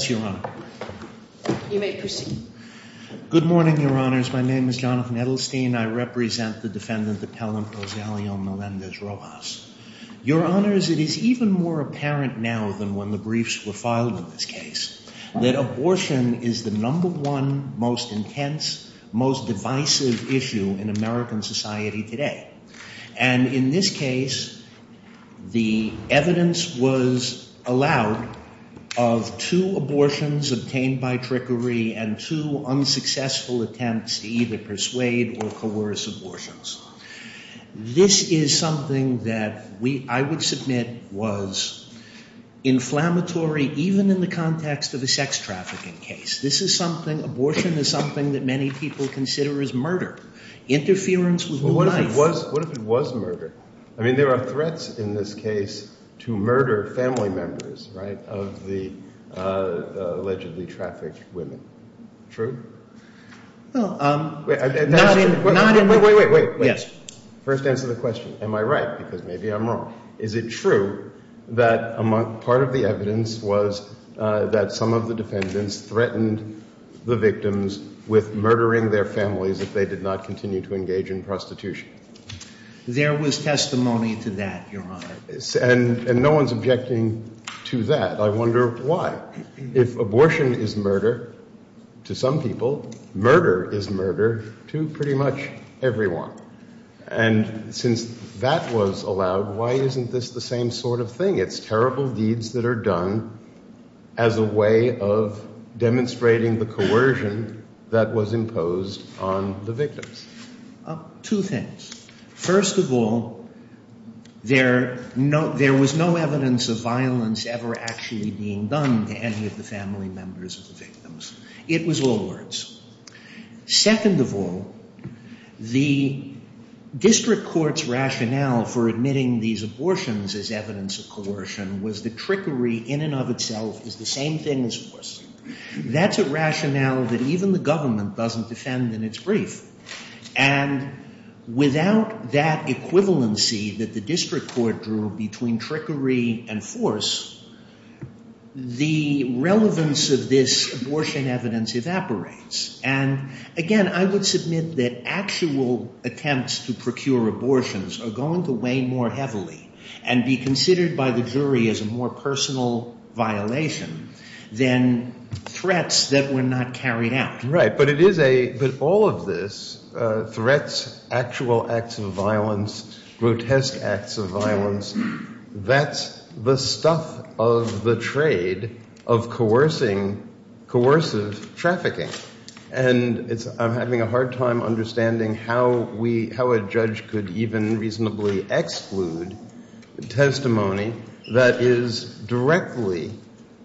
Melendez-Roxas). Your Honors, it is even more apparent now than when the briefs were filed in this case that abortion is the number one most intense, most divisive issue in American by trickery and two unsuccessful attempts to either persuade or coerce abortions. This is something that I would submit was inflammatory even in the context of a sex trafficking case. This is something, abortion is something that many people consider as murder. Interference with life. What if it was murder? I mean there are threats in this case to murder family members of the allegedly trafficked women. True? Wait, wait, wait. First answer the question. Am I right? Because maybe I'm wrong. Is it true that part of the evidence was that some of the defendants threatened the victims with murdering their families if they did not continue to engage in prostitution? There was testimony to that, Your Honor. And no one's objecting to that. I wonder why. If abortion is murder to some people, murder is murder to pretty much everyone. And since that was allowed, why isn't this the same sort of thing? It's terrible deeds that are done as a way of demonstrating the coercion that was imposed on the victims. Two things. First of all, there was no evidence of violence ever actually being done to any of the family members of the victims. It was all words. Second of all, the district court's rationale for admitting these abortions as evidence of coercion was the trickery in and of itself is the same thing as forcing. That's rationale that even the government doesn't defend in its brief. And without that equivalency that the district court drew between trickery and force, the relevance of this abortion evidence evaporates. And again, I would submit that actual attempts to procure abortions are going to weigh more heavily and be considered by the jury as a more personal violation than threats that were not carried out. Right. But it is a – but all of this, threats, actual acts of violence, grotesque acts of violence, that's the stuff of the trade of coercing, coercive trafficking. And it's – I'm having a hard time understanding how we – how a judge could even reasonably exclude testimony that is directly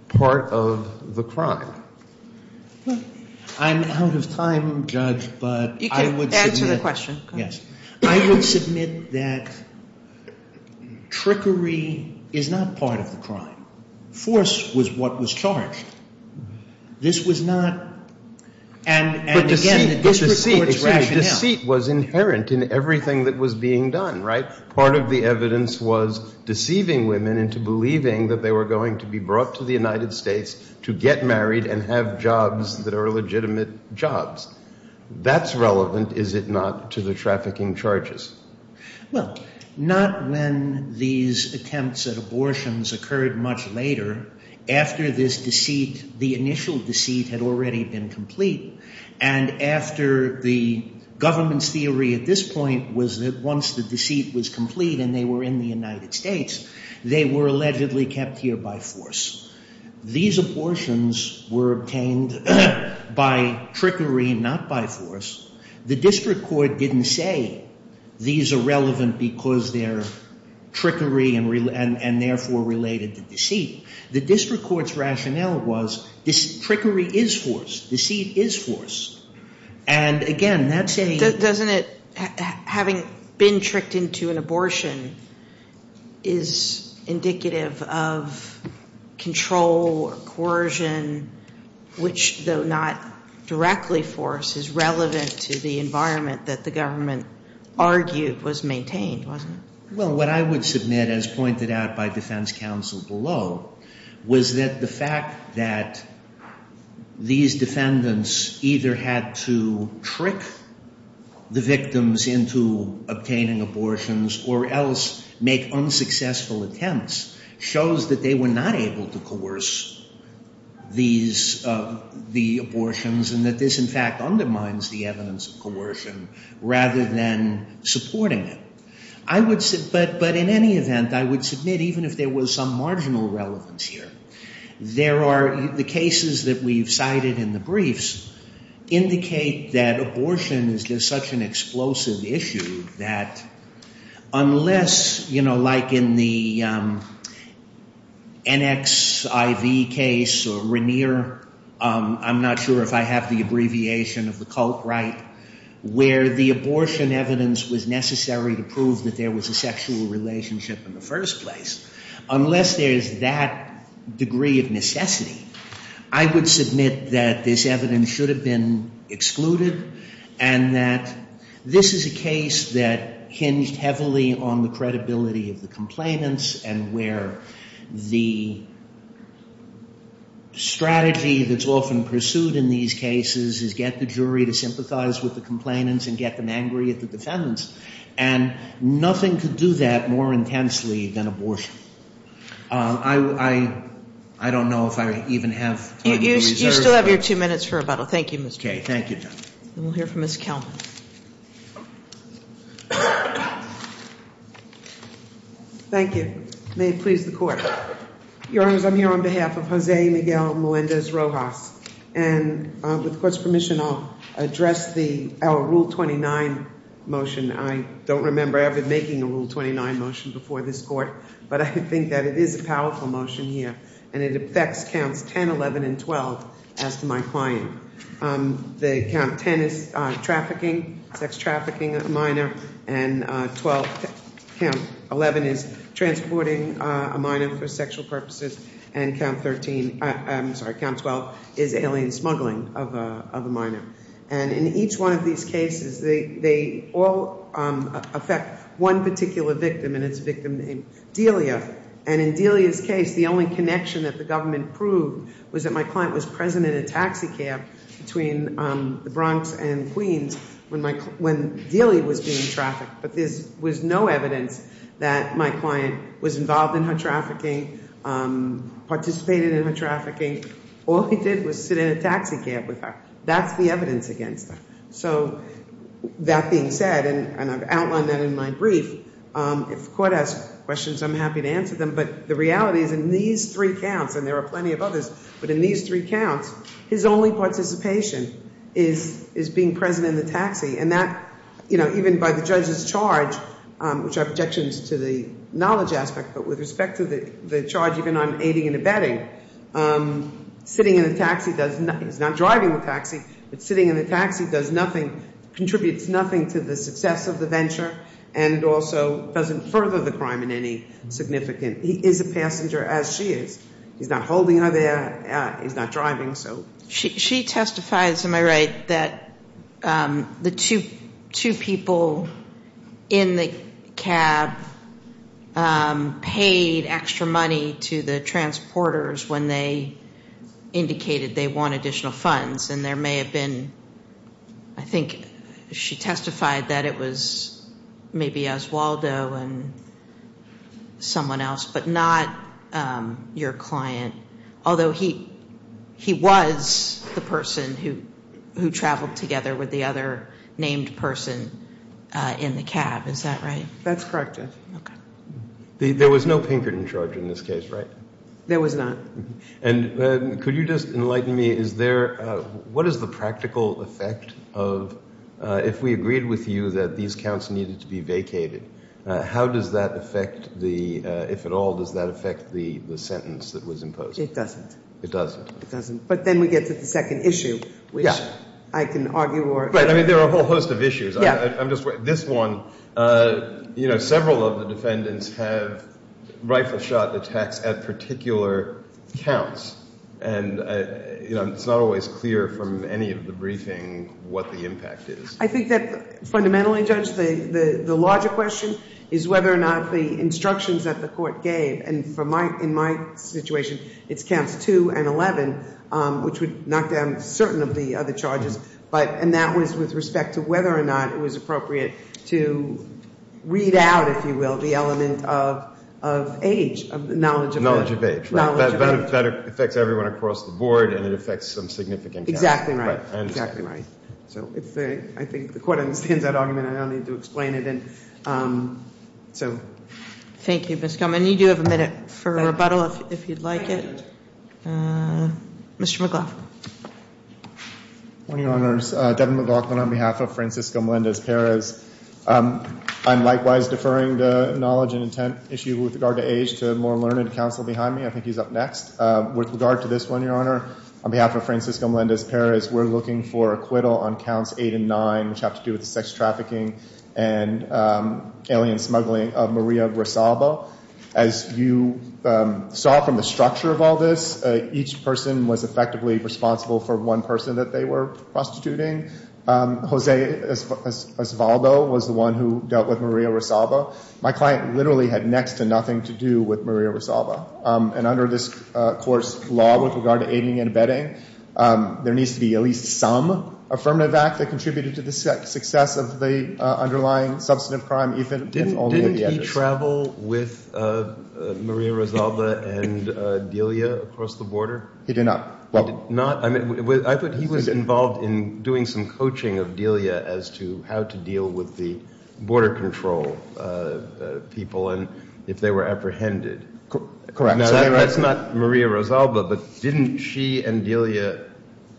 part of the crime. Well, I'm out of time, Judge, but I would submit – You can answer the question. Yes. I would submit that trickery is not part of the crime. Force was what was charged. This was not – and again, the district court's rationale – part of the evidence was deceiving women into believing that they were going to be brought to the United States to get married and have jobs that are legitimate jobs. That's relevant, is it not, to the trafficking charges? Well, not when these attempts at abortions occurred much later. After this deceit, the initial deceit had already been complete. And after the government's theory at this point was that once the deceit was complete and they were in the United States, they were allegedly kept here by force. These abortions were obtained by trickery, not by force. The district court didn't say these are relevant because they're trickery and therefore related to deceit. The district court's rationale was trickery is force. Deceit is force. And again, that's a – having been tricked into an abortion is indicative of control or coercion, which, though not directly force, is relevant to the environment that the government argued was maintained, wasn't it? Well, what I would submit, as pointed out by defense counsel below, was that the fact that these defendants either had to trick the victims into obtaining abortions or else make unsuccessful attempts shows that they were not able to coerce these – the abortions and that this, in fact, undermines the evidence of coercion rather than supporting it. I would – but in any event, I would submit even if there was some marginal relevance here, there are – the cases that we've cited in the briefs indicate that abortion is just such an explosive issue that unless, you know, like in the NXIV case or Rainier, I'm not sure if I have the abbreviation of the cult right, where the abortion evidence was necessary to prove that there was a sexual relationship in the first place, unless there is that degree of necessity, I would submit that this evidence should have been excluded and that this is a case that hinged heavily on the credibility of the complainants and where the strategy that's often pursued in these cases is get the jury to sympathize with the complainants and get them angry at the defendants. And nothing could do that more intensely than abortion. I don't know if I even have time to reserve. You still have your two minutes for rebuttal. Thank you, Mr. Chairman. Okay. Thank you, Judge. And we'll hear from Ms. Kelman. Thank you. May it please the Court. Your Honors, I'm here on behalf of Jose Miguel Melendez Rojas, and with the Court's permission, I'll address our Rule 29 motion. I don't remember ever making a Rule 29 motion before this Court, but I think that it is a powerful motion here and it affects Counts 10, 11, and 12 as to my client. Count 10 is trafficking, sex trafficking a minor, and 12, Count 11 is transporting a minor for sexual purposes, and Count 12 is alien smuggling of a minor. And in each one of these cases, they all affect one particular victim, and it's a victim named Delia. And in Delia's case, the only connection that the government proved was that my client was present in a taxi cab between the Bronx and Queens when Delia was being trafficked. But there was no evidence that my client was involved in her trafficking, participated in her trafficking. All he did was sit in a taxi cab with her. That's the evidence against him. So that being said, and I've outlined that in my brief, if the Court has questions, I'm happy to answer them, but the reality is in these three counts, and there are plenty of others, but in these three counts, his only participation is being present in the taxi. And that, you know, even by the judge's charge, which I have objections to the knowledge aspect, but with respect to the charge even I'm aiding and abetting, sitting in the taxi does nothing. He's not driving the taxi, but sitting in the taxi does nothing, contributes nothing to the success of the venture, and also doesn't further the crime in any significant. He is a passenger, as she is. He's not holding her there. He's not driving, so... She testifies, am I right, that the two people in the cab paid extra money to the transporters when they indicated they want additional funds, and there may have been, I think she testified that it was maybe Oswaldo and someone else, but not your client, although he was the person who traveled together with the other named person in the cab, is that right? That's correct, yes. There was no Pinkerton charge in this case, right? There was not. And could you just enlighten me, is there, what is the practical effect of, if we agreed with you that these counts needed to be vacated, how does that affect the, if at all, does that affect the sentence that was imposed? It doesn't. It doesn't. It doesn't, but then we get to the second issue, which I can argue or... Right, I mean, there are a whole host of issues. I'm just, this one, you know, several of the defendants have rifle shot attacks at particular counts, and, you know, it's not always clear from any of the briefing what the impact is. I think that, fundamentally, Judge, the larger question is whether or not the instructions that the court gave, and in my situation, it's counts 2 and 11, which would knock down certain of the other charges, and that was with respect to whether or not it was appropriate to read out, if you will, the element of age, of knowledge of age. Knowledge of age, right. Knowledge of age. That affects everyone across the board, and it affects some significant counts. Exactly right. Right, I understand. That's exactly right. So, I think the court understands that argument, and I don't need to explain it, and so... Thank you, Ms. Gilman. You do have a minute for rebuttal, if you'd like it. Mr. McLaughlin. Good morning, Your Honors. Devin McLaughlin on behalf of Francisco Melendez-Perez. I'm likewise deferring the knowledge and intent issue with regard to age to more learned counsel behind me. I think he's up next. With regard to this one, Your Honor, on behalf of Francisco Melendez-Perez, we're looking for acquittal on Counts 8 and 9, which have to do with the sex trafficking and alien smuggling of Maria Rosalba. As you saw from the structure of all this, each person was effectively responsible for one person that they were prostituting. Jose Osvaldo was the one who dealt with Maria Rosalba. My client literally had next to nothing to do with Maria Rosalba. And under this Court's law with regard to aiding and abetting, there needs to be at least some affirmative act that contributed to the success of the underlying substantive crime, even if only with the edges. Didn't he travel with Maria Rosalba and Delia across the border? He did not. Well... Not... I thought he was involved in doing some coaching of Delia as to how to deal with the border control people and if they were apprehended. Correct. Now, that's not Maria Rosalba, but didn't she and Delia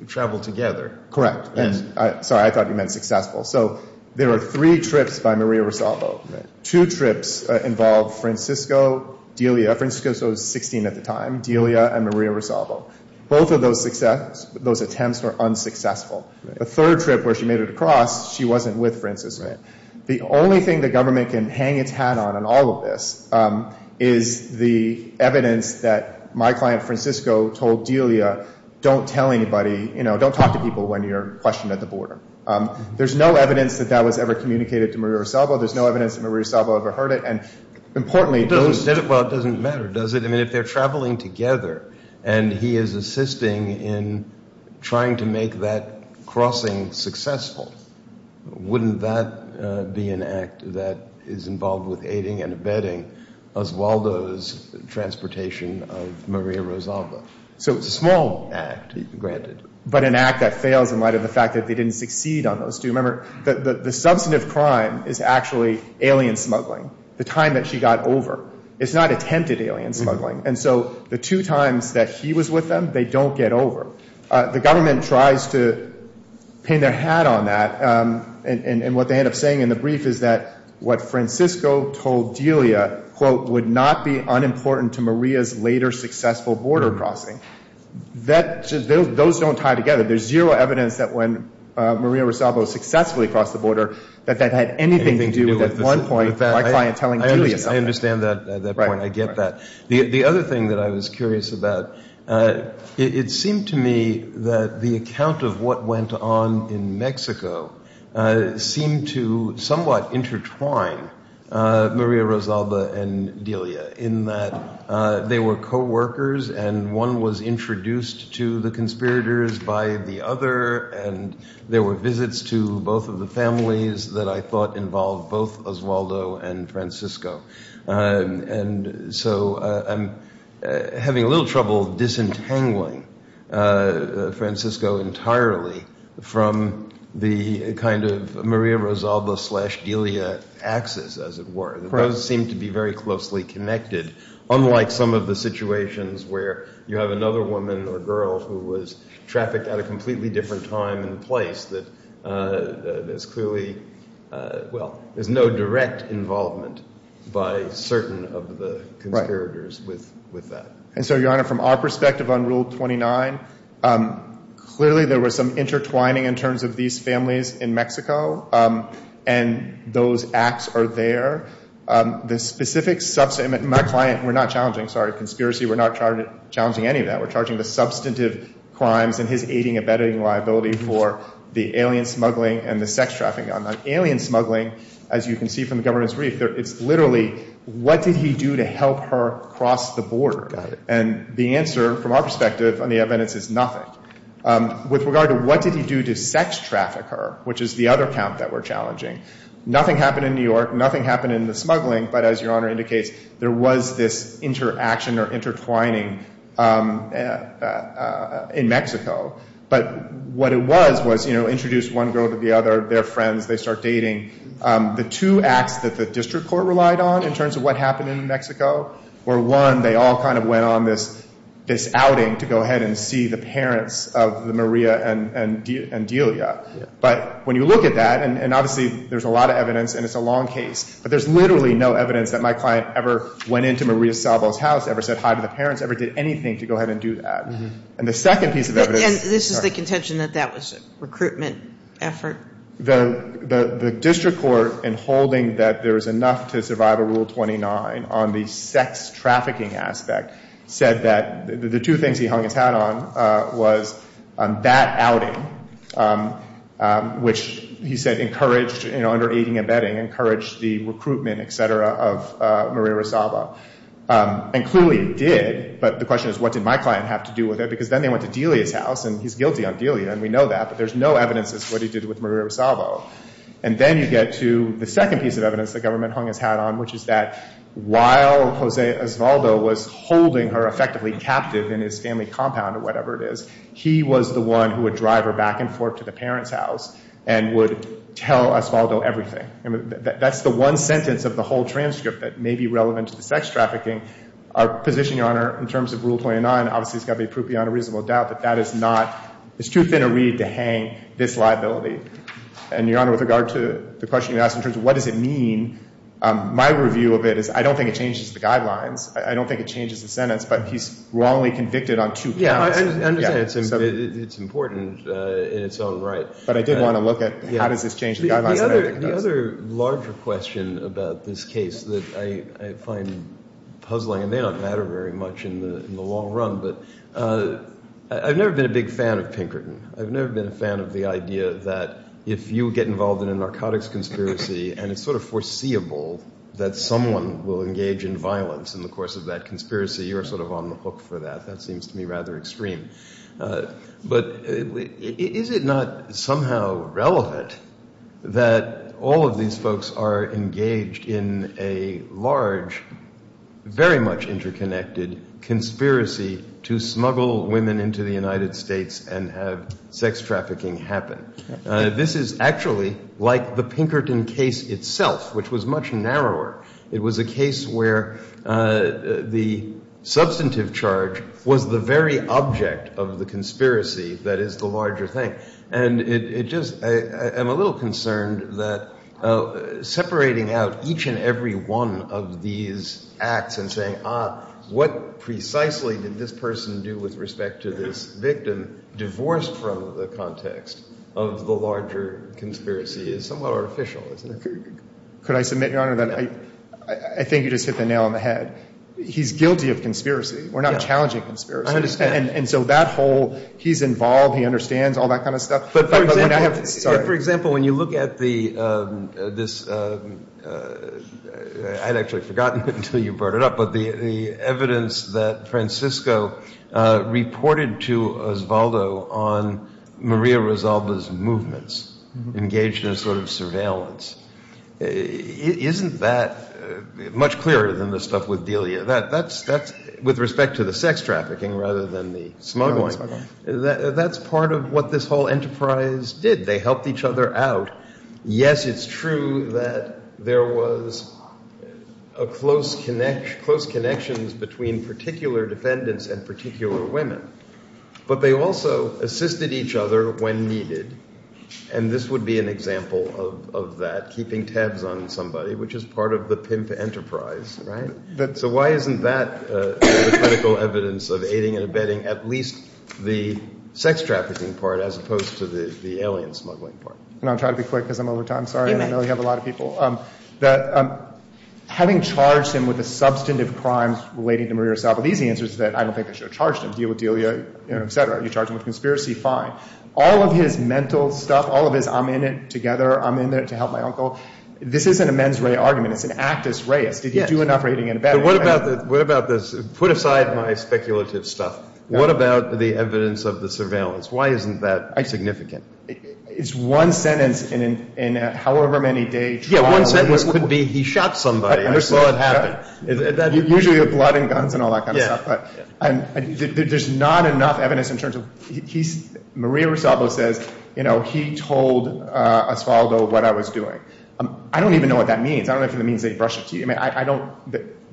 travel together? Correct. Yes. Sorry, I thought you meant successful. So there are three trips by Maria Rosalba. Two trips involved Francisco, Delia, Francisco was 16 at the time, Delia and Maria Rosalba. Both of those attempts were unsuccessful. The third trip where she made it across, she wasn't with Francisco. The only thing the government can hang its hat on in all of this is the evidence that my client Francisco told Delia, don't tell anybody, you know, don't talk to people when you're questioned at the border. There's no evidence that that was ever communicated to Maria Rosalba. There's no evidence that Maria Rosalba ever heard it. And importantly... Well, it doesn't matter, does it? I mean, if they're traveling together and he is assisting in trying to make that crossing successful, wouldn't that be an act that is involved with aiding and abetting Osvaldo's transportation of Maria Rosalba? So it's a small act, granted. But an act that fails in light of the fact that they didn't succeed on those two. Remember, the substantive crime is actually alien smuggling, the time that she got over. It's not attempted alien smuggling. And so the two times that he was with them, they don't get over. The government tries to pin their hat on that. And what they end up saying in the brief is that what Francisco told Delia, quote, would not be unimportant to Maria's later successful border crossing. Those don't tie together. There's zero evidence that when Maria Rosalba was successfully across the border, that that had anything to do with, at one point, my client telling Delia something. I understand that point. I get that. The other thing that I was curious about, it seemed to me that the account of what went on in Mexico seemed to somewhat intertwine Maria Rosalba and Delia in that they were co-workers and one was introduced to the conspirators by the other. And there were visits to both of the families that I thought involved both Osvaldo and Francisco. And so I'm having a little trouble disentangling Francisco entirely from the kind of Maria Rosalba slash Delia axis, as it were. Those seem to be very closely connected, unlike some of the situations where you have another woman or girl who was trafficked at a completely different time and place that is clearly, well, there's no direct involvement by certain of the conspirators with that. And so, Your Honor, from our perspective on Rule 29, clearly there was some intertwining in terms of these families in Mexico. And those acts are there. The specific subset, my client, we're not challenging, sorry, conspiracy. We're not challenging any of that. We're charging the substantive crimes and his aiding and abetting liability for the alien smuggling, as you can see from the government's brief, it's literally what did he do to help her cross the border? And the answer from our perspective on the evidence is nothing. With regard to what did he do to sex traffic her, which is the other count that we're challenging, nothing happened in New York. Nothing happened in the smuggling. But as Your Honor indicates, there was this interaction or intertwining in Mexico. But what it was was, you know, introduced one girl to the other, they're friends. They start dating. The two acts that the district court relied on in terms of what happened in Mexico were, one, they all kind of went on this outing to go ahead and see the parents of Maria and Delia. But when you look at that, and obviously there's a lot of evidence and it's a long case, but there's literally no evidence that my client ever went into Maria Salvo's house, ever said hi to the parents, ever did anything to go ahead and do that. And the second piece of evidence. And this is the contention that that was a recruitment effort? The district court in holding that there was enough to survive a Rule 29 on the sex trafficking aspect said that the two things he hung his hat on was that outing, which he said encouraged, you know, under aiding and abetting, encouraged the recruitment, et cetera, of Maria Salvo. And clearly did, but the question is what did my client have to do with it? Because then they went to Delia's house, and he's guilty on Delia, and we know that, but there's no evidence as to what he did with Maria Salvo. And then you get to the second piece of evidence the government hung his hat on, which is that while Jose Osvaldo was holding her effectively captive in his family compound or whatever it is, he was the one who would drive her back and forth to the parents' house and would tell Osvaldo everything. I mean, that's the one sentence of the whole transcript that may be relevant to the sex trafficking. Our position, Your Honor, in terms of Rule 29, obviously, has got to be proof beyond a reasonable doubt that that is not, it's too thin a reed to hang this liability. And, Your Honor, with regard to the question you asked in terms of what does it mean, my review of it is I don't think it changes the guidelines. I don't think it changes the sentence, but he's wrongly convicted on two counts. Yeah, I understand, it's important in its own right. But I did want to look at how does this change the guidelines. The other larger question about this case that I find puzzling, and they don't matter very much in the long run, but I've never been a big fan of Pinkerton. I've never been a fan of the idea that if you get involved in a narcotics conspiracy and it's sort of foreseeable that someone will engage in violence in the course of that conspiracy, you're sort of on the hook for that. That seems to me rather extreme. But is it not somehow relevant that all of these folks are engaged in a large, very much interconnected conspiracy to smuggle women into the United States and have sex trafficking happen? This is actually like the Pinkerton case itself, which was much narrower. It was a case where the substantive charge was the very object of the conspiracy that is the larger thing. And it just, I'm a little concerned that separating out each and every one of these acts and saying, ah, what precisely did this person do with respect to this victim divorced from the context of the larger conspiracy is somewhat artificial, isn't it? Could I submit, Your Honor, that I think you just hit the nail on the head. He's guilty of conspiracy. We're not challenging conspiracy. I understand. And so that whole he's involved, he understands, all that kind of stuff. But for example, when you look at this, I'd actually forgotten until you brought it up, but the evidence that Francisco reported to Osvaldo on Maria Resalda's movements, engaged in a sort of surveillance, isn't that much clearer than the stuff with Delia? That's, with respect to the sex trafficking rather than the smuggling, that's part of what this whole enterprise did. They helped each other out. Yes, it's true that there was a close connection between particular defendants and particular women, but they also assisted each other when needed. And this would be an example of that, keeping tabs on somebody, which is part of the PIMP enterprise, right? So why isn't that the critical evidence of aiding and abetting at least the sex trafficking part as opposed to the alien smuggling part? And I'll try to be quick because I'm over time. Sorry, I know we have a lot of people. That having charged him with a substantive crime relating to Maria Resalda, the easy answer is that I don't think they should have charged him. Deal with Delia, et cetera. You charge him with conspiracy, fine. All of his mental stuff, all of his I'm in it together, I'm in there to help my uncle, this isn't a mens rea argument. It's an actus reus. Did you do enough raiding and abetting? What about this, put aside my speculative stuff. What about the evidence of the surveillance? Why isn't that significant? It's one sentence in a however many day trial. Yeah, one sentence could be he shot somebody, I saw it happen. Usually with blood and guns and all that kind of stuff, but there's not enough evidence in terms of, Maria Resalda says he told Osvaldo what I was doing. I don't even know what that means. I don't know if it means that he brushed it to you. I don't,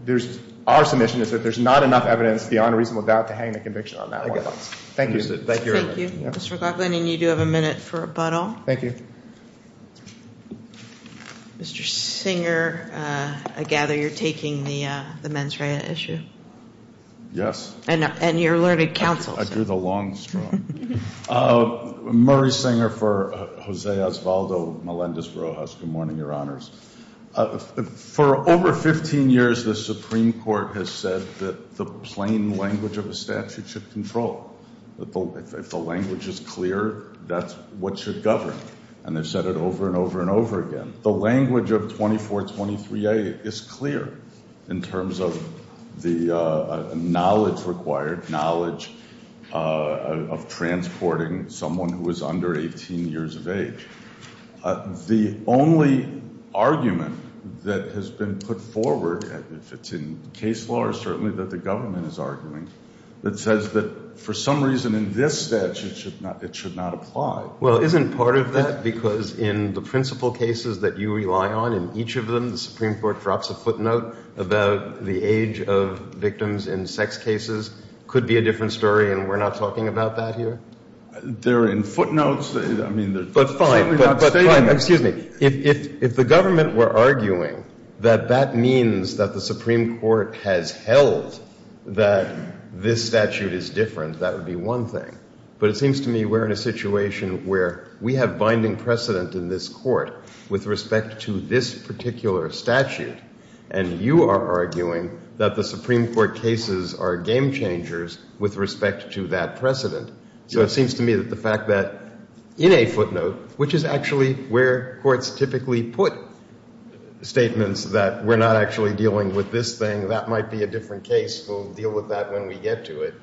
there's, our submission is that there's not enough evidence beyond reasonable doubt to hang the conviction on that one of us. Thank you. Thank you. Mr. Gluckman, you do have a minute for rebuttal. Thank you. Mr. Singer, I gather you're taking the mens rea issue. Yes. And you're learning counsel. I drew the long straw. Murray Singer for Jose Osvaldo Melendez Rojas, good morning, your honors. For over 15 years, the Supreme Court has said that the plain language of a statute should control. If the language is clear, that's what should govern. And they've said it over and over and over again. The language of 2423A is clear in terms of the knowledge required, knowledge of transporting someone who is under 18 years of age. The only argument that has been put forward, if it's in case law or certainly that the government is arguing, that says that for some reason in this statute it should not apply. Well, isn't part of that because in the principle cases that you rely on, in each of them, the Supreme Court drops a footnote about the age of victims in sex cases? Could be a different story, and we're not talking about that here? They're in footnotes. I mean, they're certainly not statements. But fine, but fine, excuse me. If the government were arguing that that means that the Supreme Court has held that this statute is different, that would be one thing. But it seems to me we're in a situation where we have binding precedent in this court with respect to this particular statute, and you are arguing that the Supreme Court cases are game changers with respect to that precedent. So it seems to me that the fact that in a footnote, which is actually where courts typically put statements that we're not actually dealing with this thing, that might be a different case, we'll deal with that when we get to it,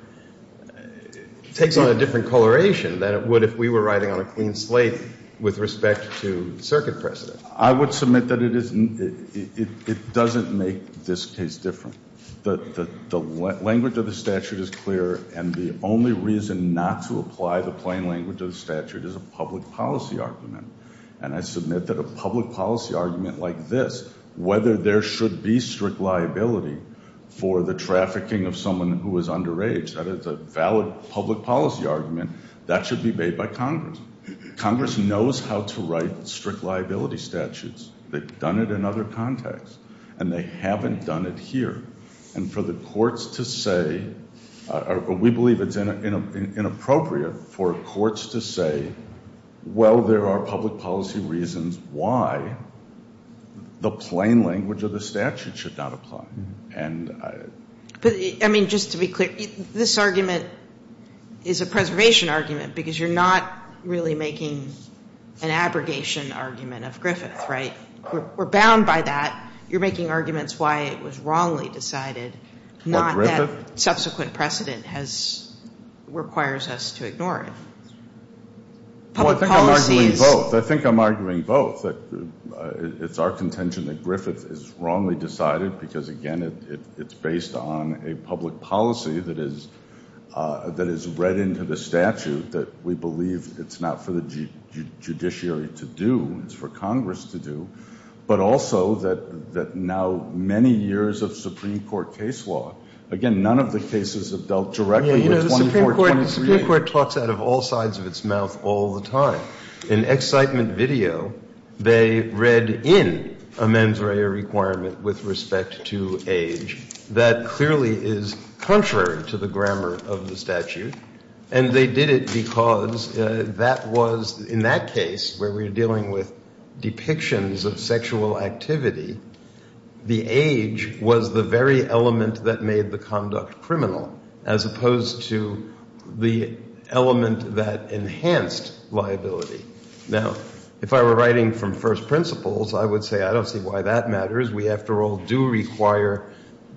takes on a different coloration than it would if we were writing on a clean slate with respect to circuit precedent. I would submit that it doesn't make this case different. The language of the statute is clear, and the only reason not to apply the plain language of the statute is a public policy argument. And I submit that a public policy argument like this, whether there should be strict liability for the trafficking of someone who is underage, that is a valid public policy argument, that should be made by Congress. Congress knows how to write strict liability statutes. They've done it in other contexts, and they haven't done it here. And for the courts to say, or we believe it's inappropriate for courts to say, well, there are public policy reasons why the plain language of the statute should not apply. And I- But, I mean, just to be clear, this argument is a preservation argument, because you're not really making an abrogation argument of Griffith, right? We're bound by that. You're making arguments why it was wrongly decided, not that subsequent precedent has, requires us to ignore it. Public policies- I'm arguing both. I think I'm arguing both. That it's our contention that Griffith is wrongly decided, because again, it's based on a public policy that is read into the statute, that we believe it's not for the judiciary to do, it's for Congress to do. But also that now many years of Supreme Court case law, Supreme Court talks out of all sides of its mouth all the time. In excitement video, they read in a mens rea requirement with respect to age. That clearly is contrary to the grammar of the statute. And they did it because that was, in that case, where we're dealing with depictions of sexual activity, the age was the very element that made the conduct criminal. As opposed to the element that enhanced liability. Now, if I were writing from first principles, I would say, I don't see why that matters. We, after all, do require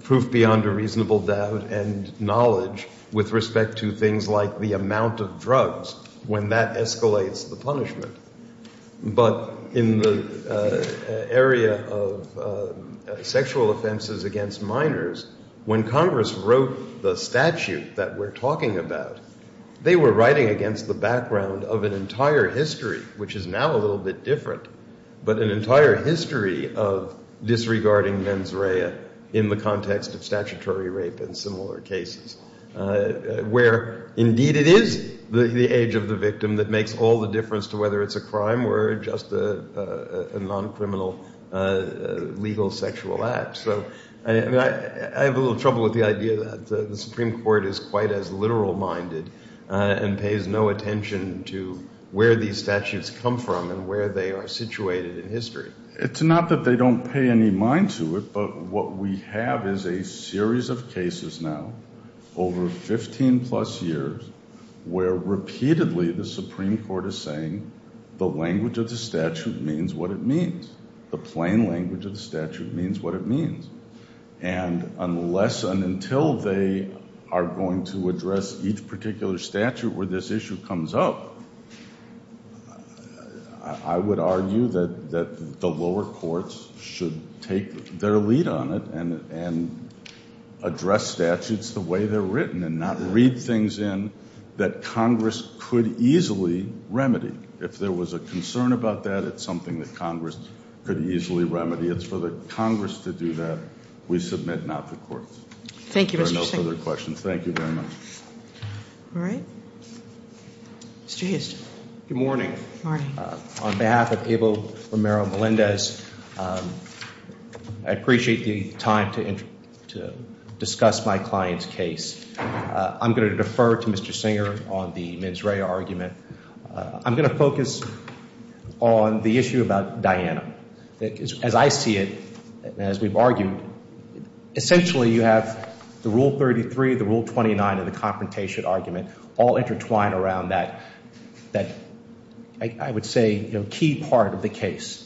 proof beyond a reasonable doubt and knowledge with respect to things like the amount of drugs when that escalates the punishment. But in the area of sexual offenses against minors, when Congress wrote the statute that we're talking about, they were writing against the background of an entire history, which is now a little bit different. But an entire history of disregarding mens rea in the context of statutory rape and similar cases, where indeed it is the age of the victim that makes all the difference to whether it's a crime or just a non-criminal legal sexual act. So, I have a little trouble with the idea that the Supreme Court is quite as literal minded and pays no attention to where these statutes come from and where they are situated in history. It's not that they don't pay any mind to it, but what we have is a series of cases now, over 15 plus years, where repeatedly the Supreme Court is saying, the language of the statute means what it means. The plain language of the statute means what it means. And unless and until they are going to address each particular statute where this issue comes up, I would argue that the lower courts should take their lead on it and address statutes the way they're written and not read things in that Congress could easily remedy. If there was a concern about that, it's something that Congress could easily remedy. It's for the Congress to do that. We submit not the courts. There are no further questions. Thank you very much. All right, Mr. Houston. Good morning. Morning. On behalf of Abel Romero Melendez, I appreciate the time to discuss my client's case. I'm going to defer to Mr. Singer on the mens rea argument. I'm going to focus on the issue about Diana. As I see it, and as we've argued, essentially you have the Rule 33, the Rule 29, and the confrontation argument all intertwined around that, I would say, key part of the case.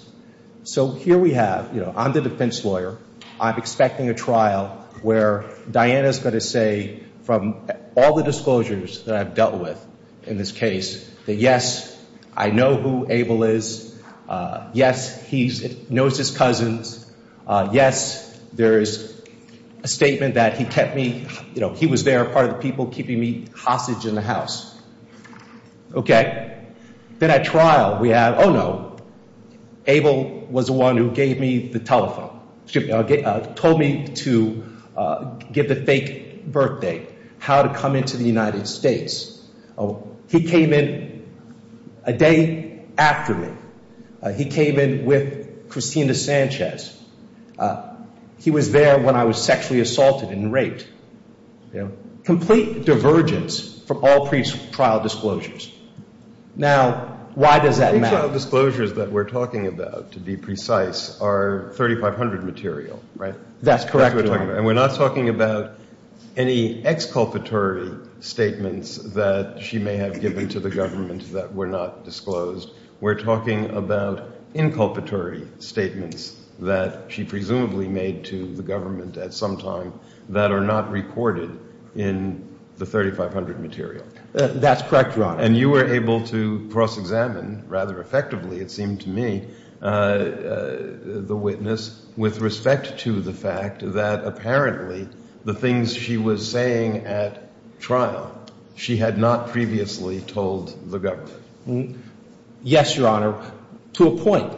So here we have, I'm the defense lawyer. I'm expecting a trial where Diana's going to say, from all the disclosures that I've dealt with in this case, that yes, I know who Abel is. Yes, he knows his cousins. Yes, there is a statement that he kept me, he was there, a part of the people keeping me hostage in the house. Okay. Then at trial, we have, oh no, Abel was the one who gave me the telephone. Told me to give the fake birth date, how to come into the United States. He came in a day after me. He came in with Christina Sanchez. He was there when I was sexually assaulted and raped. Complete divergence from all pre-trial disclosures. Now, why does that matter? The pre-trial disclosures that we're talking about, to be precise, are 3500 material, right? That's correct, Your Honor. And we're not talking about any exculpatory statements that she may have given to the government that were not disclosed. We're talking about inculpatory statements that she presumably made to the government at some time that are not recorded in the 3500 material. That's correct, Your Honor. And you were able to cross-examine rather effectively, it seemed to me, the witness with respect to the fact that apparently the things she was saying at trial, she had not previously told the government. Yes, Your Honor, to a point.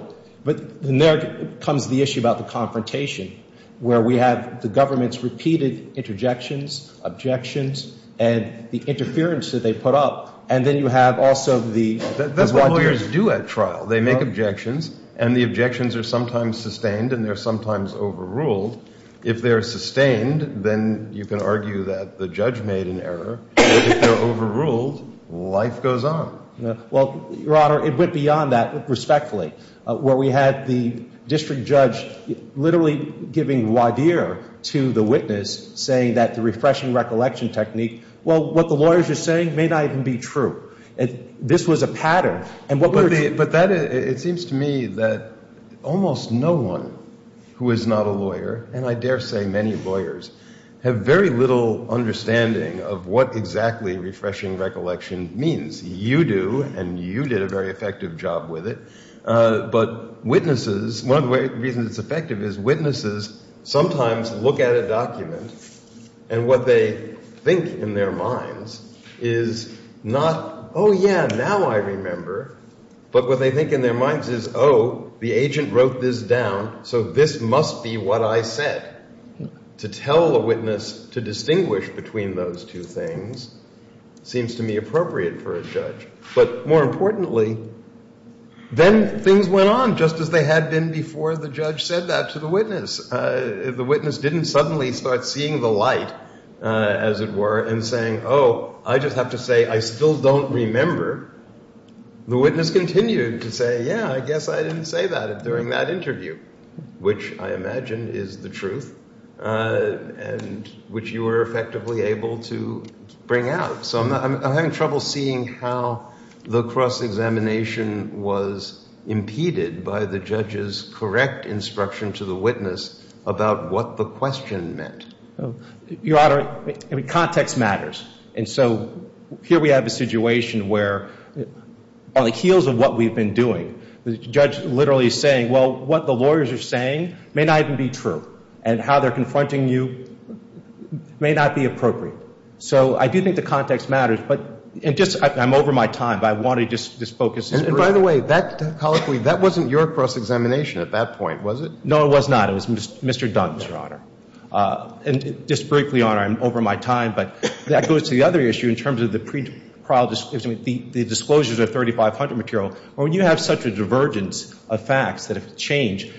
But then there comes the issue about the confrontation, where we have the government's repeated interjections, objections, and the interference that they put up. And then you have also the... That's what lawyers do at trial. They make objections, and the objections are sometimes sustained, and they're sometimes overruled. If they're sustained, then you can argue that the judge made an error, but if they're overruled, life goes on. Well, Your Honor, it went beyond that, respectfully. Where we had the district judge literally giving voir dire to the witness, saying that the refreshing recollection technique, well, what the lawyers are saying may not even be true. This was a pattern. But it seems to me that almost no one who is not a lawyer, and I dare say many lawyers, have very little understanding of what exactly refreshing recollection means. You do, and you did a very effective job with it. But witnesses, one of the reasons it's effective is witnesses sometimes look at a document, and what they think in their minds is not, oh, yeah, now I remember. But what they think in their minds is, oh, the agent wrote this down, so this must be what I said. To tell a witness to distinguish between those two things seems to me appropriate for a judge. But more importantly, then things went on just as they had been before the judge said that to the witness. The witness didn't suddenly start seeing the light, as it were, and saying, oh, I just have to say I still don't remember. The witness continued to say, yeah, I guess I didn't say that during that interview, which I imagine is the truth, and which you were effectively able to bring out. So I'm having trouble seeing how the cross-examination was impeded by the judge's correct instruction to the witness about what the question meant. Your Honor, context matters. And so here we have a situation where on the heels of what we've been doing, the judge literally is saying, well, what the lawyers are saying may not even be true, and how they're confronting you may not be appropriate. So I do think the context matters, but just I'm over my time, but I wanted to just focus this briefly. And by the way, that, colloquially, that wasn't your cross-examination at that point, was it? No, it was not. It was Mr. Dunn's, Your Honor. And just briefly, Your Honor, I'm over my time, but that goes to the other issue in terms of the pre-trial, the disclosures of 3,500 material, where you have such a divergence of facts that have changed.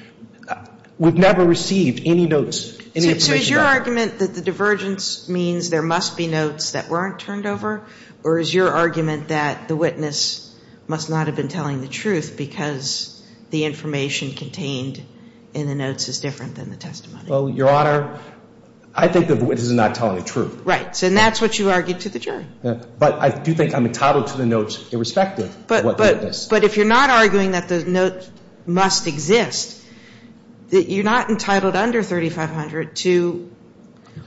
We've never received any notes, any information about that. Is your argument that the divergence means there must be notes that weren't turned over? Or is your argument that the witness must not have been telling the truth because the information contained in the notes is different than the testimony? Well, Your Honor, I think that the witness is not telling the truth. Right, and that's what you argued to the jury. But I do think I'm entitled to the notes irrespective of what the witness. But if you're not arguing that the note must exist, you're not entitled under 3,500 to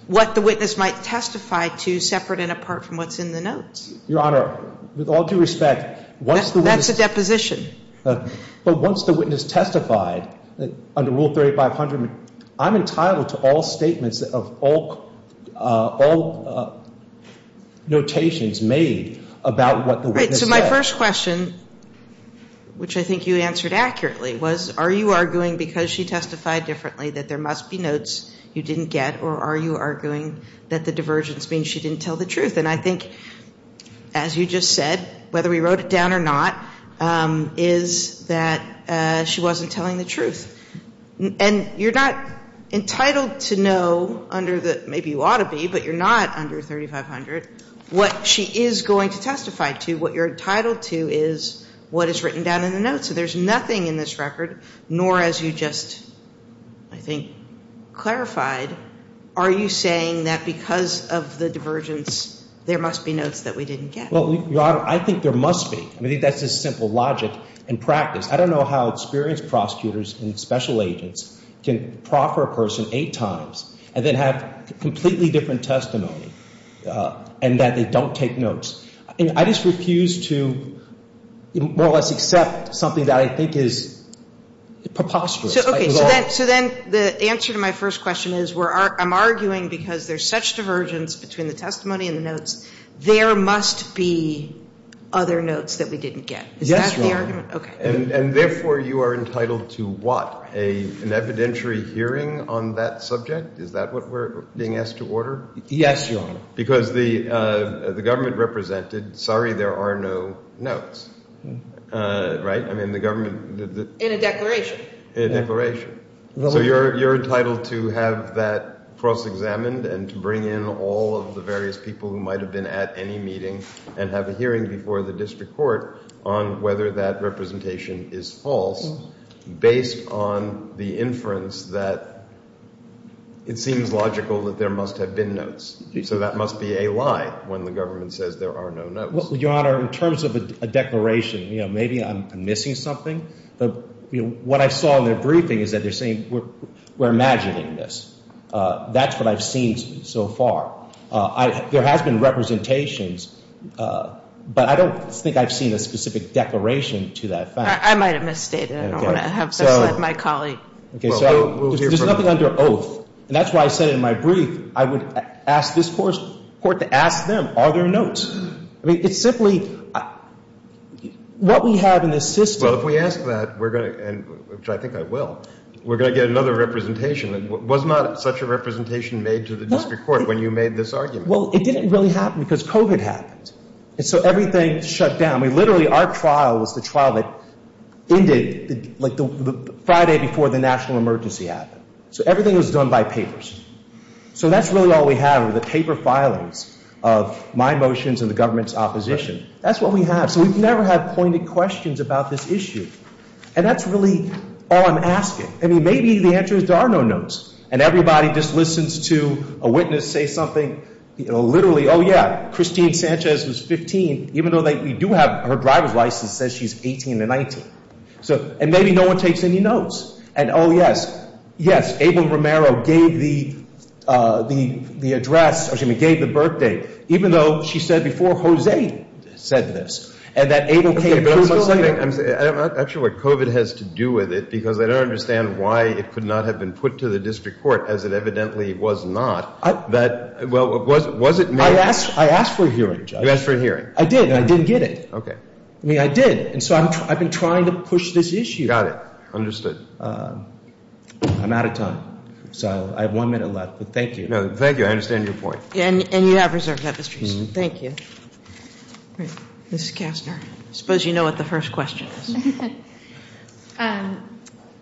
what the witness might testify to separate and apart from what's in the notes. Your Honor, with all due respect, once the witness... That's a deposition. But once the witness testified under Rule 3,500, I'm entitled to all statements of all notations made about what the witness said. The first question, which I think you answered accurately, was, are you arguing because she testified differently that there must be notes you didn't get? Or are you arguing that the divergence means she didn't tell the truth? And I think, as you just said, whether we wrote it down or not, is that she wasn't telling the truth. And you're not entitled to know under the, maybe you ought to be, but you're not under 3,500, what she is going to testify to, what you're entitled to, is what is written down in the notes. So there's nothing in this record, nor as you just, I think, clarified. Are you saying that because of the divergence, there must be notes that we didn't get? Well, Your Honor, I think there must be. I mean, I think that's just simple logic and practice. I don't know how experienced prosecutors and special agents can proffer a person eight times and then have completely different testimony and that they don't take notes. I just refuse to, more or less, accept something that I think is preposterous. Okay. So then the answer to my first question is, I'm arguing because there's such divergence between the testimony and the notes, there must be other notes that we didn't get. Is that the argument? Yes, Your Honor. And therefore, you are entitled to what? An evidentiary hearing on that subject? Is that what we're being asked to order? Yes, Your Honor. Because the government represented, sorry, there are no notes, right? I mean, the government... In a declaration. In a declaration. So you're entitled to have that cross-examined and to bring in all of the various people who might have been at any meeting and have a hearing before the district court on whether that representation is false based on the inference that it seems logical that there must have been notes. So that must be a lie when the government says there are no notes. Well, Your Honor, in terms of a declaration, you know, maybe I'm missing something, but what I saw in their briefing is that they're saying we're imagining this. That's what I've seen so far. There has been representations, but I don't think I've seen a specific declaration to that fact. I might have misstated. I don't want to have such a... My colleague. Okay, so there's nothing under oath, and that's why I said in my brief, I would ask this court to ask them, are there notes? I mean, it's simply, what we have in this system... Well, if we ask that, we're going to, which I think I will, we're going to get another representation. Was not such a representation made to the district court when you made this argument? Well, it didn't really happen because COVID happened. And so everything shut down. We literally, our trial was the trial that ended like Friday before the national emergency happened. So everything was done by papers. So that's really all we have are the paper filings of my motions and the government's opposition. That's what we have. So we've never had pointed questions about this issue. And that's really all I'm asking. I mean, maybe the answer is there are no notes. And everybody just listens to a witness say something, you know, literally, oh yeah, Christine Sanchez was 15, even though we do have her driver's license says she's 18 to 19. So, and maybe no one takes any notes. And oh yes, yes, Abel Romero gave the address, or excuse me, gave the birthday, even though she said before, Jose said this. And that Abel came... Okay, but I'm not sure what COVID has to do with it, because I don't understand why it could not have been put to the district court, as it evidently was not. That, well, was it made... I asked for a hearing, Josh. You asked for a hearing. I did, and I didn't get it. Okay. I mean, I did. And so I've been trying to push this issue. Got it. Understood. I'm out of time. So I have one minute left, but thank you. No, thank you. I understand your point. And you have reserved that, Mr. Houston. Thank you. Mrs. Kastner, I suppose you know what the first question is.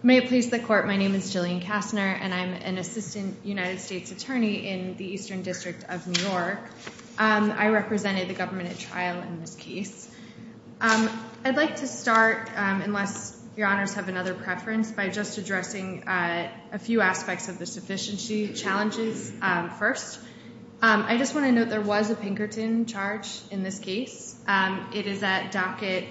May it please the court, my name is Jillian Kastner, and I'm an assistant United States attorney in the Eastern District of New York. I represented the government at trial in this case. I'd like to start, unless your honors have another preference, by just addressing a few aspects of the sufficiency challenges first. I just want to note there was a Pinkerton charge in this case. It is at docket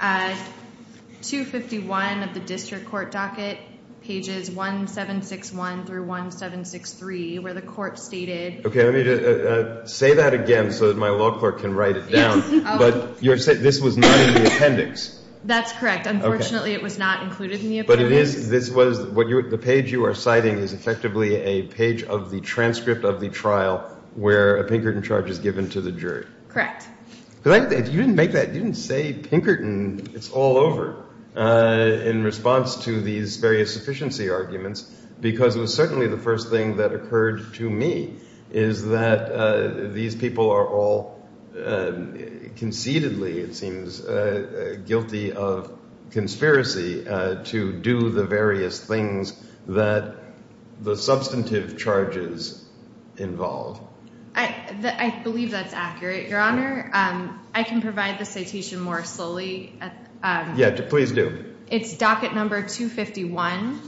251 of the district court docket, pages 1761 through 1763, where the court stated... Okay, let me just say that again so that my law clerk can write it down. But you're saying this was not in the appendix? That's correct. Unfortunately, it was not included in the appendix. But it is, this was, the page you are citing is effectively a page of the transcript of the trial where a Pinkerton charge is given to the jury. Correct. You didn't make that, you didn't say Pinkerton. It's all over in response to these various sufficiency arguments, because it was certainly the first thing that occurred to me, is that these people are all concededly, it seems, guilty of conspiracy to do the various things that the substantive charges involve. I believe that's accurate, your honor. I can provide the citation more slowly. Yeah, please do. It's docket number 251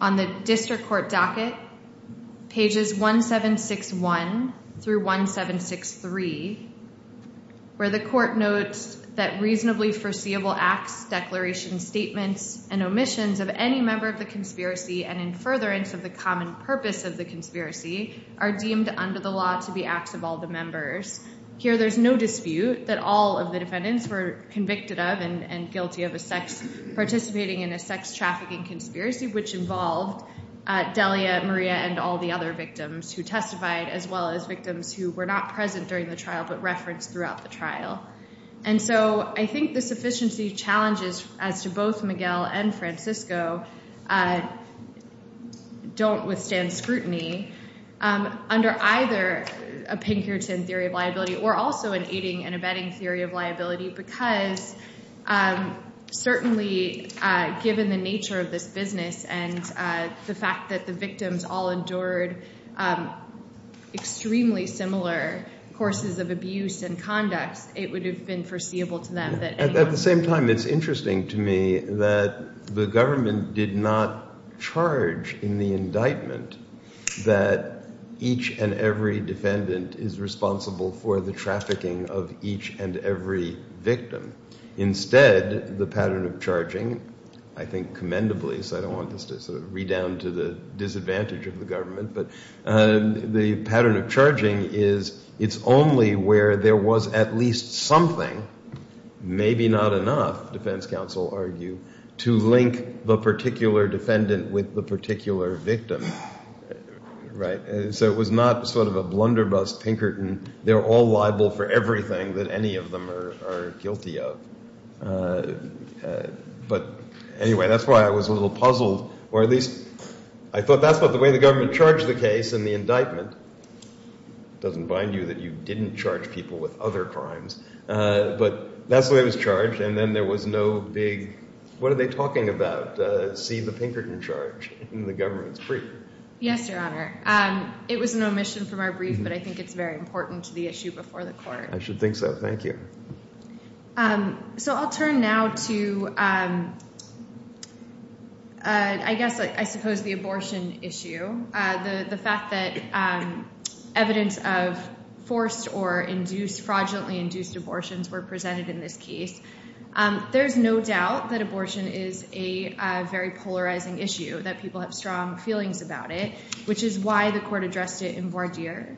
on the district court docket, pages 1761 through 1763, where the court notes that reasonably foreseeable acts, declarations, statements, and omissions of any member of the conspiracy and in furtherance of the common purpose of the conspiracy are deemed under the law to be acts of all the members. Here, there's no dispute that all of the defendants were convicted of and guilty of participating in a sex trafficking conspiracy, which involved Delia, Maria, and all the other victims who testified, as well as victims who were not present during the trial, but referenced throughout the trial. And so I think the sufficiency challenges as to both Miguel and Francisco don't withstand scrutiny under either a Pinkerton theory of liability, or also an aiding and abetting theory of liability, because certainly, given the nature of this business and the fact that the victims all endured extremely similar courses of abuse and conduct, it would have been foreseeable to them that- At the same time, it's interesting to me that the government did not charge in the indictment that each and every defendant is responsible for the trafficking of each and every victim. Instead, the pattern of charging, I think commendably, so I don't want this to sort of read down to the disadvantage of the government, but the pattern of charging is it's only where there was at least something, maybe not enough, defense counsel argue, to link the particular defendant with the particular victim. Right? So it was not sort of a blunderbuss Pinkerton. They're all liable for everything that any of them are guilty of. But anyway, that's why I was a little puzzled, or at least I thought that's what the way the government charged the case in the indictment. It doesn't bind you that you didn't charge people with other crimes, but that's the way it was charged. And then there was no big- What are they talking about? See the Pinkerton charge in the government's brief. Yes, Your Honor. It was an omission from our brief, but I think it's very important to the issue before the court. I should think so. Thank you. So I'll turn now to, I guess, I suppose the abortion issue. The fact that evidence of forced or induced, fraudulently induced abortions were presented in this case. There's no doubt that abortion is a very polarizing issue, that people have strong feelings about it, which is why the court addressed it in voir dire,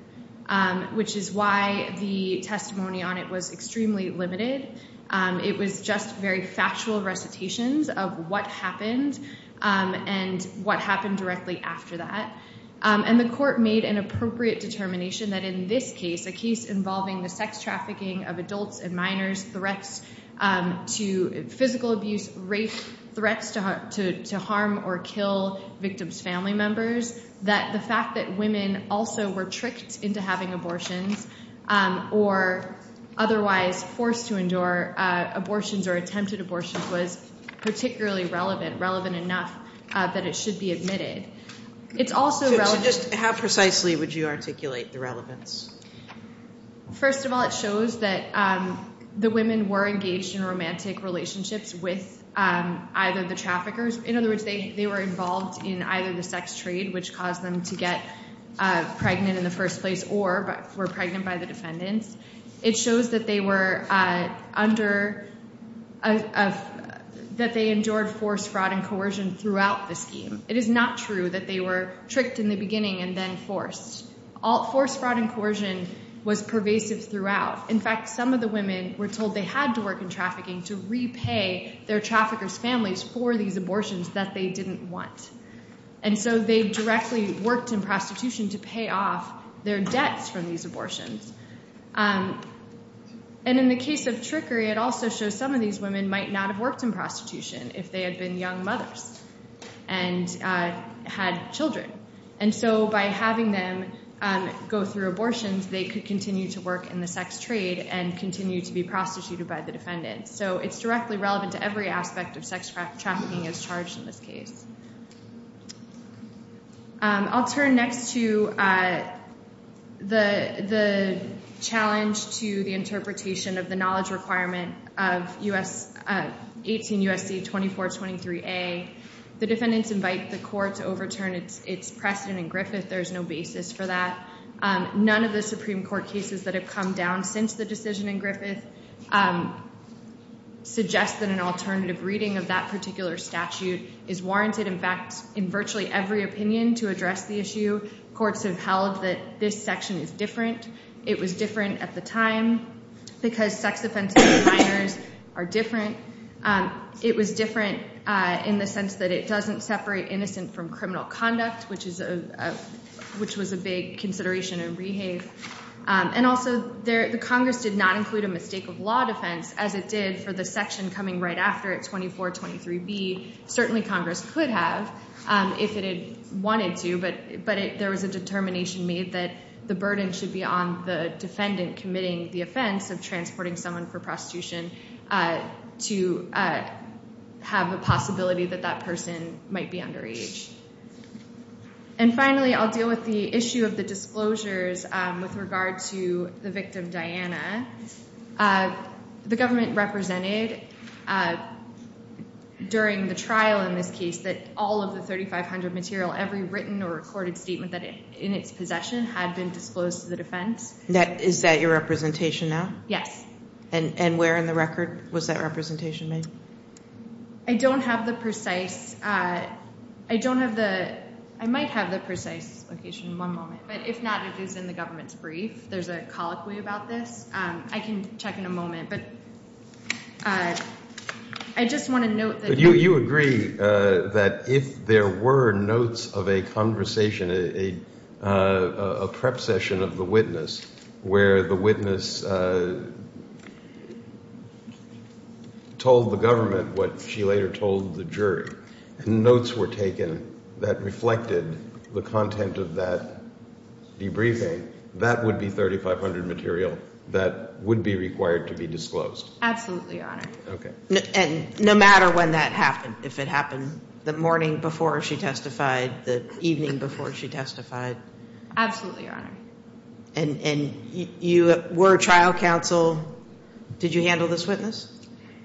which is why the testimony on it was extremely limited. It was just very factual recitations of what happened and what happened directly after that. And the court made an appropriate determination that in this case, a case involving the sex trafficking of adults and minors, threats to physical abuse, rape, threats to harm or kill victims' family members, that the fact that women also were tricked into having abortions or otherwise forced to endure abortions or attempted abortions was particularly relevant, relevant enough that it should be admitted. It's also relevant- So just how precisely would you articulate the relevance? First of all, it shows that the women were engaged in romantic relationships with either the traffickers. In other words, they were involved in either the sex trade, which caused them to get pregnant in the first place or were pregnant by the defendants. It shows that they were under, that they endured forced fraud and coercion throughout the scheme. It is not true that they were tricked in the beginning and then forced. Forced fraud and coercion was pervasive throughout. In fact, some of the women were told they had to work in trafficking to repay their traffickers' families for these abortions that they didn't want. And so they directly worked in prostitution to pay off their debts from these abortions. And in the case of trickery, it also shows some of these women might not have worked in prostitution if they had been young mothers and had children. And so by having them go through abortions, they could continue to work in the sex trade and continue to be prostituted by the defendants. So it's directly relevant to every aspect of sex trafficking as charged in this case. I'll turn next to the challenge to the interpretation of the knowledge requirement of 18 U.S.C. 2423a. The defendants invite the court to overturn its precedent in Griffith. There's no basis for that. None of the Supreme Court cases that have come down since the decision in Griffith suggest that an alternative reading of that particular statute is warranted. In fact, in virtually every opinion to address the issue, courts have held that this section is different. It was different at the time because sex offenses of minors are different. It was different in the sense that it doesn't separate innocent from criminal conduct, which was a big consideration in Rehave. And also, the Congress did not include a mistake of law defense as it did for the section coming right after it, 2423b. Certainly, Congress could have if it had wanted to, but there was a determination made that the burden should be on the defendant committing the offense of transporting someone for prostitution to have a possibility that that person might be underage. And finally, I'll deal with the issue of the disclosures with regard to the victim, Diana. The government represented during the trial in this case that all of the 3500 material, every written or recorded statement in its possession had been disclosed to the defense. Is that your representation now? Yes. And where in the record was that representation made? I don't have the precise... I might have the precise location in one moment, but if not, it is in the government's brief. There's a colloquy about this. I can check in a moment, but I just want to note that... You agree that if there were notes of a conversation, a prep session of the witness, where the witness told the government what she later told the jury, and notes were taken that reflected the content of that debriefing, that would be 3500 material that would be required to be disclosed? Absolutely, Your Honor. Okay. And no matter when that happened, the evening before she testified? Absolutely, Your Honor. And you were trial counsel. Did you handle this witness?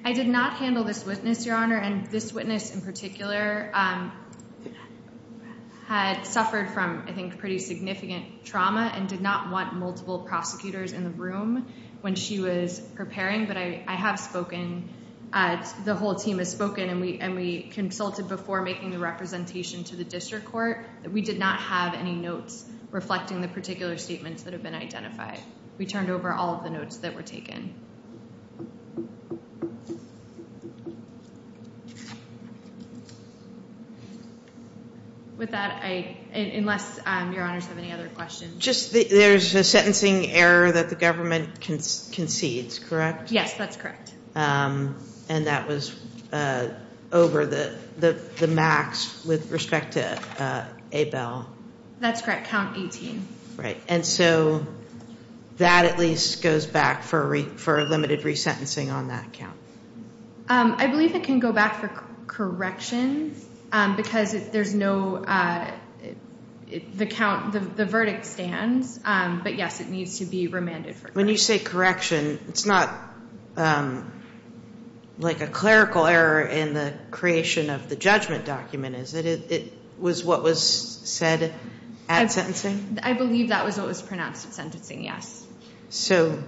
I did not handle this witness, Your Honor. And this witness in particular had suffered from, I think, pretty significant trauma and did not want multiple prosecutors in the room when she was preparing. But I have spoken, the whole team has spoken, and we consulted before making the representation to the district court. We did not have any notes reflecting the particular statements that have been identified. We turned over all of the notes that were taken. With that, unless Your Honors have any other questions. Just, there's a sentencing error that the government concedes, correct? Yes, that's correct. And that was over the max with respect to Abel. That's correct, count 18. Right, and so that at least goes back for a limited resentencing on that count. I believe it can go back for correction because there's no, the verdict stands. But yes, it needs to be remanded for correction. When you say correction, it's not like a clerical error in the creation of the judgment document, is it? It was what was said at sentencing? I believe that was what was pronounced at sentencing, yes. So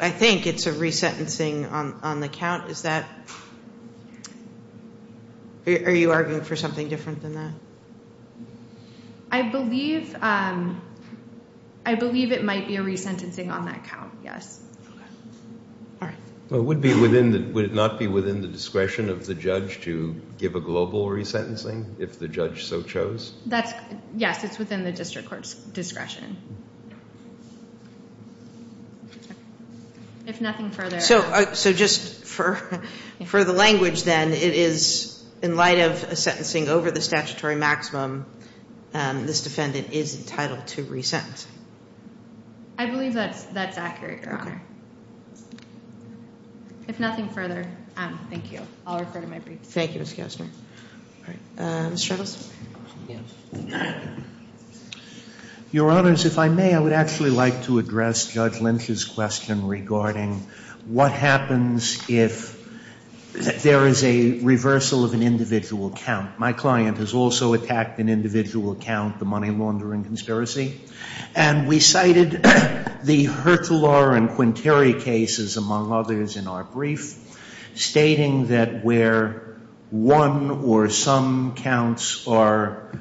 I think it's a resentencing on the count. Is that, are you arguing for something different than that? I believe it might be a resentencing on that count, yes. Well, would it not be within the discretion of the judge to give a global resentencing if the judge so chose? That's, yes, it's within the district court's discretion. If nothing further. So just for the language then, it is in light of a sentencing over the statutory maximum, this defendant is entitled to resent. I believe that's accurate, Your Honor. If nothing further, thank you. I'll refer to my brief. Thank you, Ms. Kastner. Mr. Edelson. Your Honors, if I may, I would actually like to address Judge Lynch's question regarding what happens if there is a reversal of an individual count. My client has also attacked an individual count, the money laundering conspiracy. And we cited the Hertzler and Quinteri cases, among others, in our brief, stating that where one or some counts are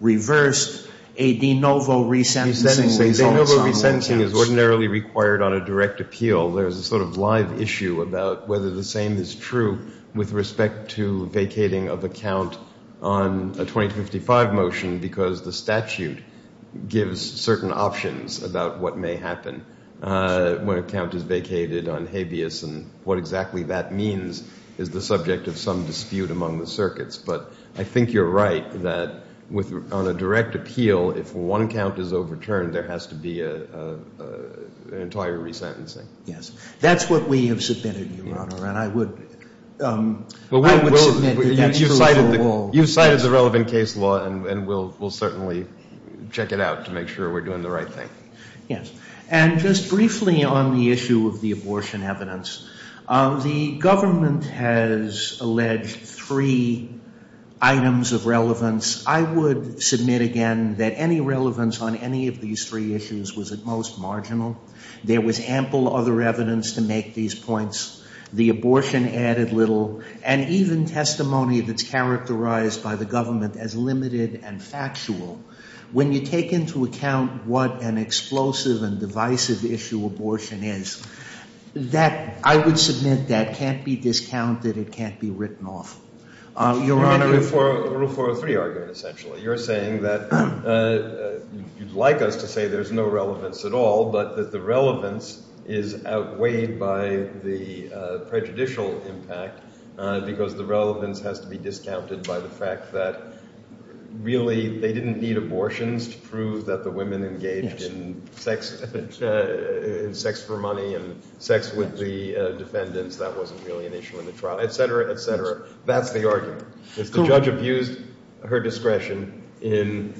reversed, a de novo resentencing results on all counts. A de novo resentencing is ordinarily required on a direct appeal. There's a sort of live issue about whether the same is true with respect to vacating of a count on a 2055 motion because the statute gives certain options about what may happen when a count is vacated on habeas and what exactly that means is the subject of some dispute among the circuits. But I think you're right that on a direct appeal, if one count is overturned, there has to be an entire resentencing. Yes. That's what we have submitted, Your Honor. And I would submit that that's true for all. You cited the relevant case law, and we'll certainly check it out to make sure we're doing the right thing. Yes. And just briefly on the issue of the abortion evidence, the government has alleged three items of relevance. I would submit again that any relevance on any of these three issues was at most marginal. There was ample other evidence to make these points. The abortion added little, and even testimony that's characterized by the government as limited and factual. When you take into account what an explosive and divisive issue abortion is, that I would submit that can't be discounted. It can't be written off. Your Honor, Rule 403 argument, essentially. You're saying that you'd like us to say there's no relevance at all, but that the relevance is outweighed by the prejudicial impact because the relevance has to be discounted by the fact that really they didn't need abortions to prove that the women engaged in sex for money and sex with the defendants. That wasn't really an issue in the trial, et cetera, et cetera. That's the argument. If the judge abused her discretion in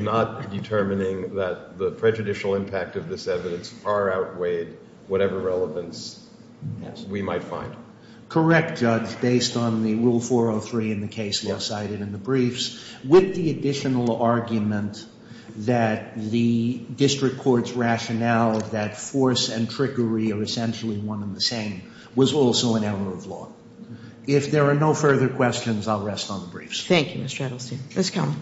not determining that the prejudicial impact of this evidence far outweighed whatever relevance we might find. Correct, Judge. Based on the Rule 403 in the case law cited in the briefs, with the additional argument that the district court's rationale that force and trickery are essentially one and the same was also an error of law. If there are no further questions, I'll rest on the briefs. Thank you, Mr. Edelstein. Ms. Kelman.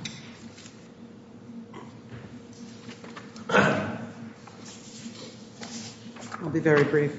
I'll be very brief.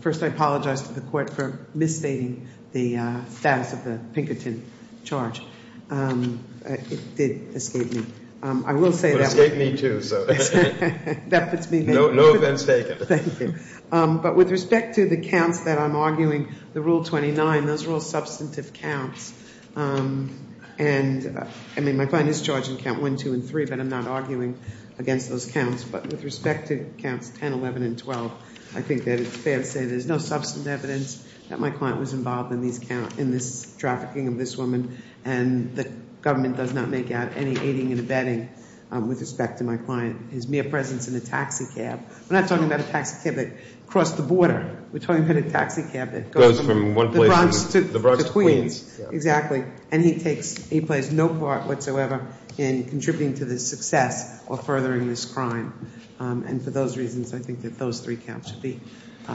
First, I apologize to the court for misstating the status of the Pinkerton charge. It did escape me. I will say that. It escaped me too, so. That puts me in favor. No offense taken. Thank you. But with respect to the counts that I'm arguing, the Rule 29, those are all substantive counts. And I mean, my client is charging count one, two, and three, but I'm not arguing against those counts. But with respect to counts 10, 11, and 12, I think that it's fair to say there's no substantive evidence that my client was involved in this trafficking of this woman. And the government does not make out any aiding and abetting with respect to my client. His mere presence in a taxi cab. We're not talking about a taxi cab that crossed the border. We're talking about a taxi cab that goes from the Bronx to Queens. Exactly. And he plays no part whatsoever in contributing to the success or furthering this crime. And for those reasons, I think that those three counts should be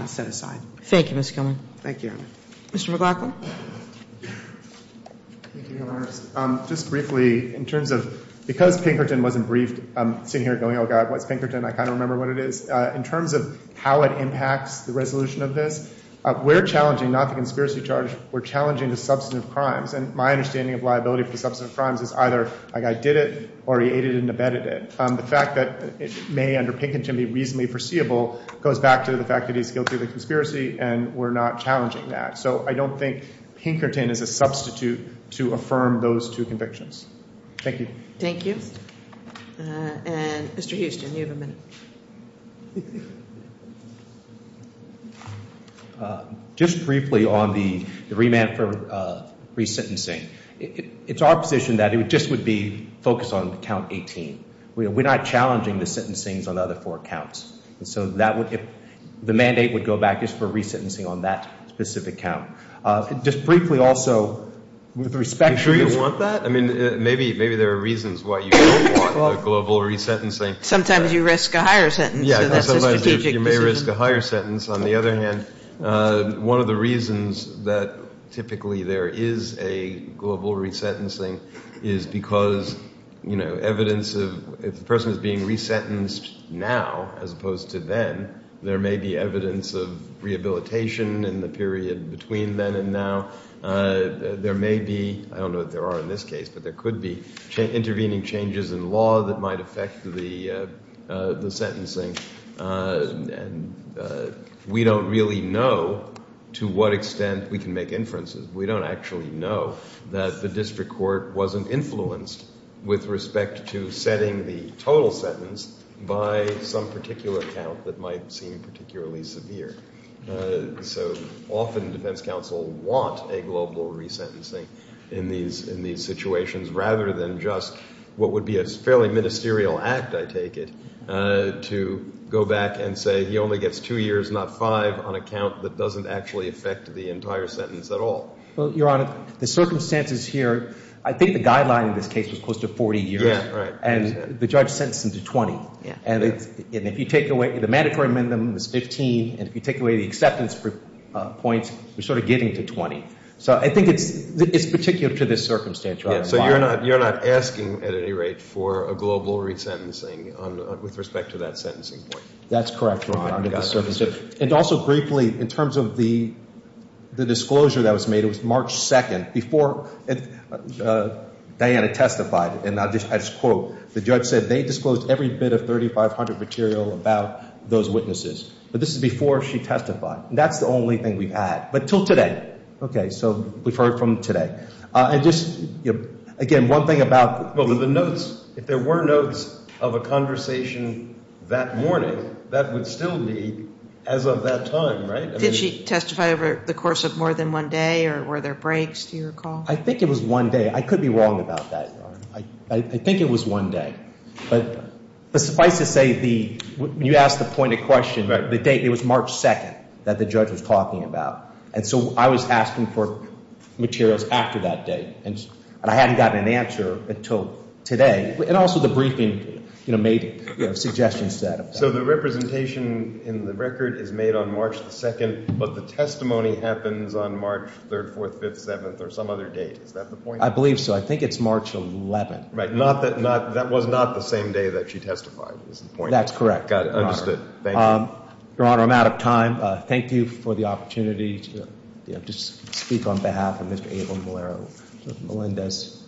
set aside. Thank you, Mr. Gilman. Thank you, Your Honor. Mr. McLaughlin. Thank you, Your Honor. Just briefly, in terms of, because Pinkerton wasn't briefed, sitting here going, oh God, what's Pinkerton? I kind of remember what it is. In terms of how it impacts the resolution of this, we're challenging, not the conspiracy charge, we're challenging the substantive crimes. And my understanding of liability for substantive crimes is either a guy did it, or he aided and abetted it. The fact that it may, under Pinkerton, be reasonably foreseeable goes back to the fact that he's guilty of a conspiracy, and we're not challenging that. So I don't think Pinkerton is a substitute to affirm those two convictions. Thank you. Thank you. And Mr. Houston, you have a minute. Just briefly on the remand for resentencing. It's our position that it just would be focused on count 18. We're not challenging the sentencings on the other four counts. And so that would, the mandate would go back just for resentencing on that specific count. Just briefly also, with respect to... Do you want that? I mean, maybe there are reasons why you don't want a global resentencing. Sometimes you risk a higher sentence. Yeah, sometimes you may risk a higher sentence. On the other hand, one of the reasons that typically there is a global resentencing is because, you know, evidence of... If the person is being resentenced now as opposed to then, there may be evidence of rehabilitation in the period between then and now. There may be, I don't know if there are in this case, but there could be intervening changes in law that might affect the sentencing. And we don't really know to what extent we can make inferences. We don't actually know that the district court wasn't influenced with respect to setting the total sentence by some particular count that might seem particularly severe. So often defense counsel want a global resentencing in these situations, rather than just what would be a fairly ministerial act, I take it, to go back and say he only gets two years, not five, on a count that doesn't actually affect the entire sentence at all. Well, Your Honor, the circumstances here, I think the guideline in this case was close to 40 years. Yeah, right. And the judge sentenced him to 20. And if you take away... The mandatory amendment was 15. And if you take away the acceptance points, we're sort of getting to 20. So I think it's particular to this circumstance, Your Honor. So you're not asking at any rate for a global resentencing with respect to that sentencing point? That's correct, Your Honor, under the circumstances. And also briefly, in terms of the disclosure that was made, it was March 2nd, before Diana testified. And I'll just quote. The judge said they disclosed every bit of 3500 material about those witnesses. But this is before she testified. That's the only thing we had. But till today. Okay, so we've heard from today. And just, again, one thing about... Well, the notes, if there were notes of a conversation that morning, that would still be as of that time, right? Did she testify over the course of more than one day? Or were there breaks, do you recall? I think it was one day. I could be wrong about that, Your Honor. I think it was one day. But suffice to say, when you ask the point of question, the date, it was March 2nd that the judge was talking about. And so I was asking for materials after that date. And I hadn't gotten an answer until today. And also the briefing made suggestions to that effect. So the representation in the record is made on March 2nd, but the testimony happens on March 3rd, 4th, 5th, 7th, or some other date. Is that the point? I believe so. I think it's March 11th. Right, that was not the same day that she testified, is the point? That's correct. Got it. Understood. Thank you. Your Honor, I'm out of time. Thank you for the opportunity to speak on behalf of Mr. Abel Malero, Melendez.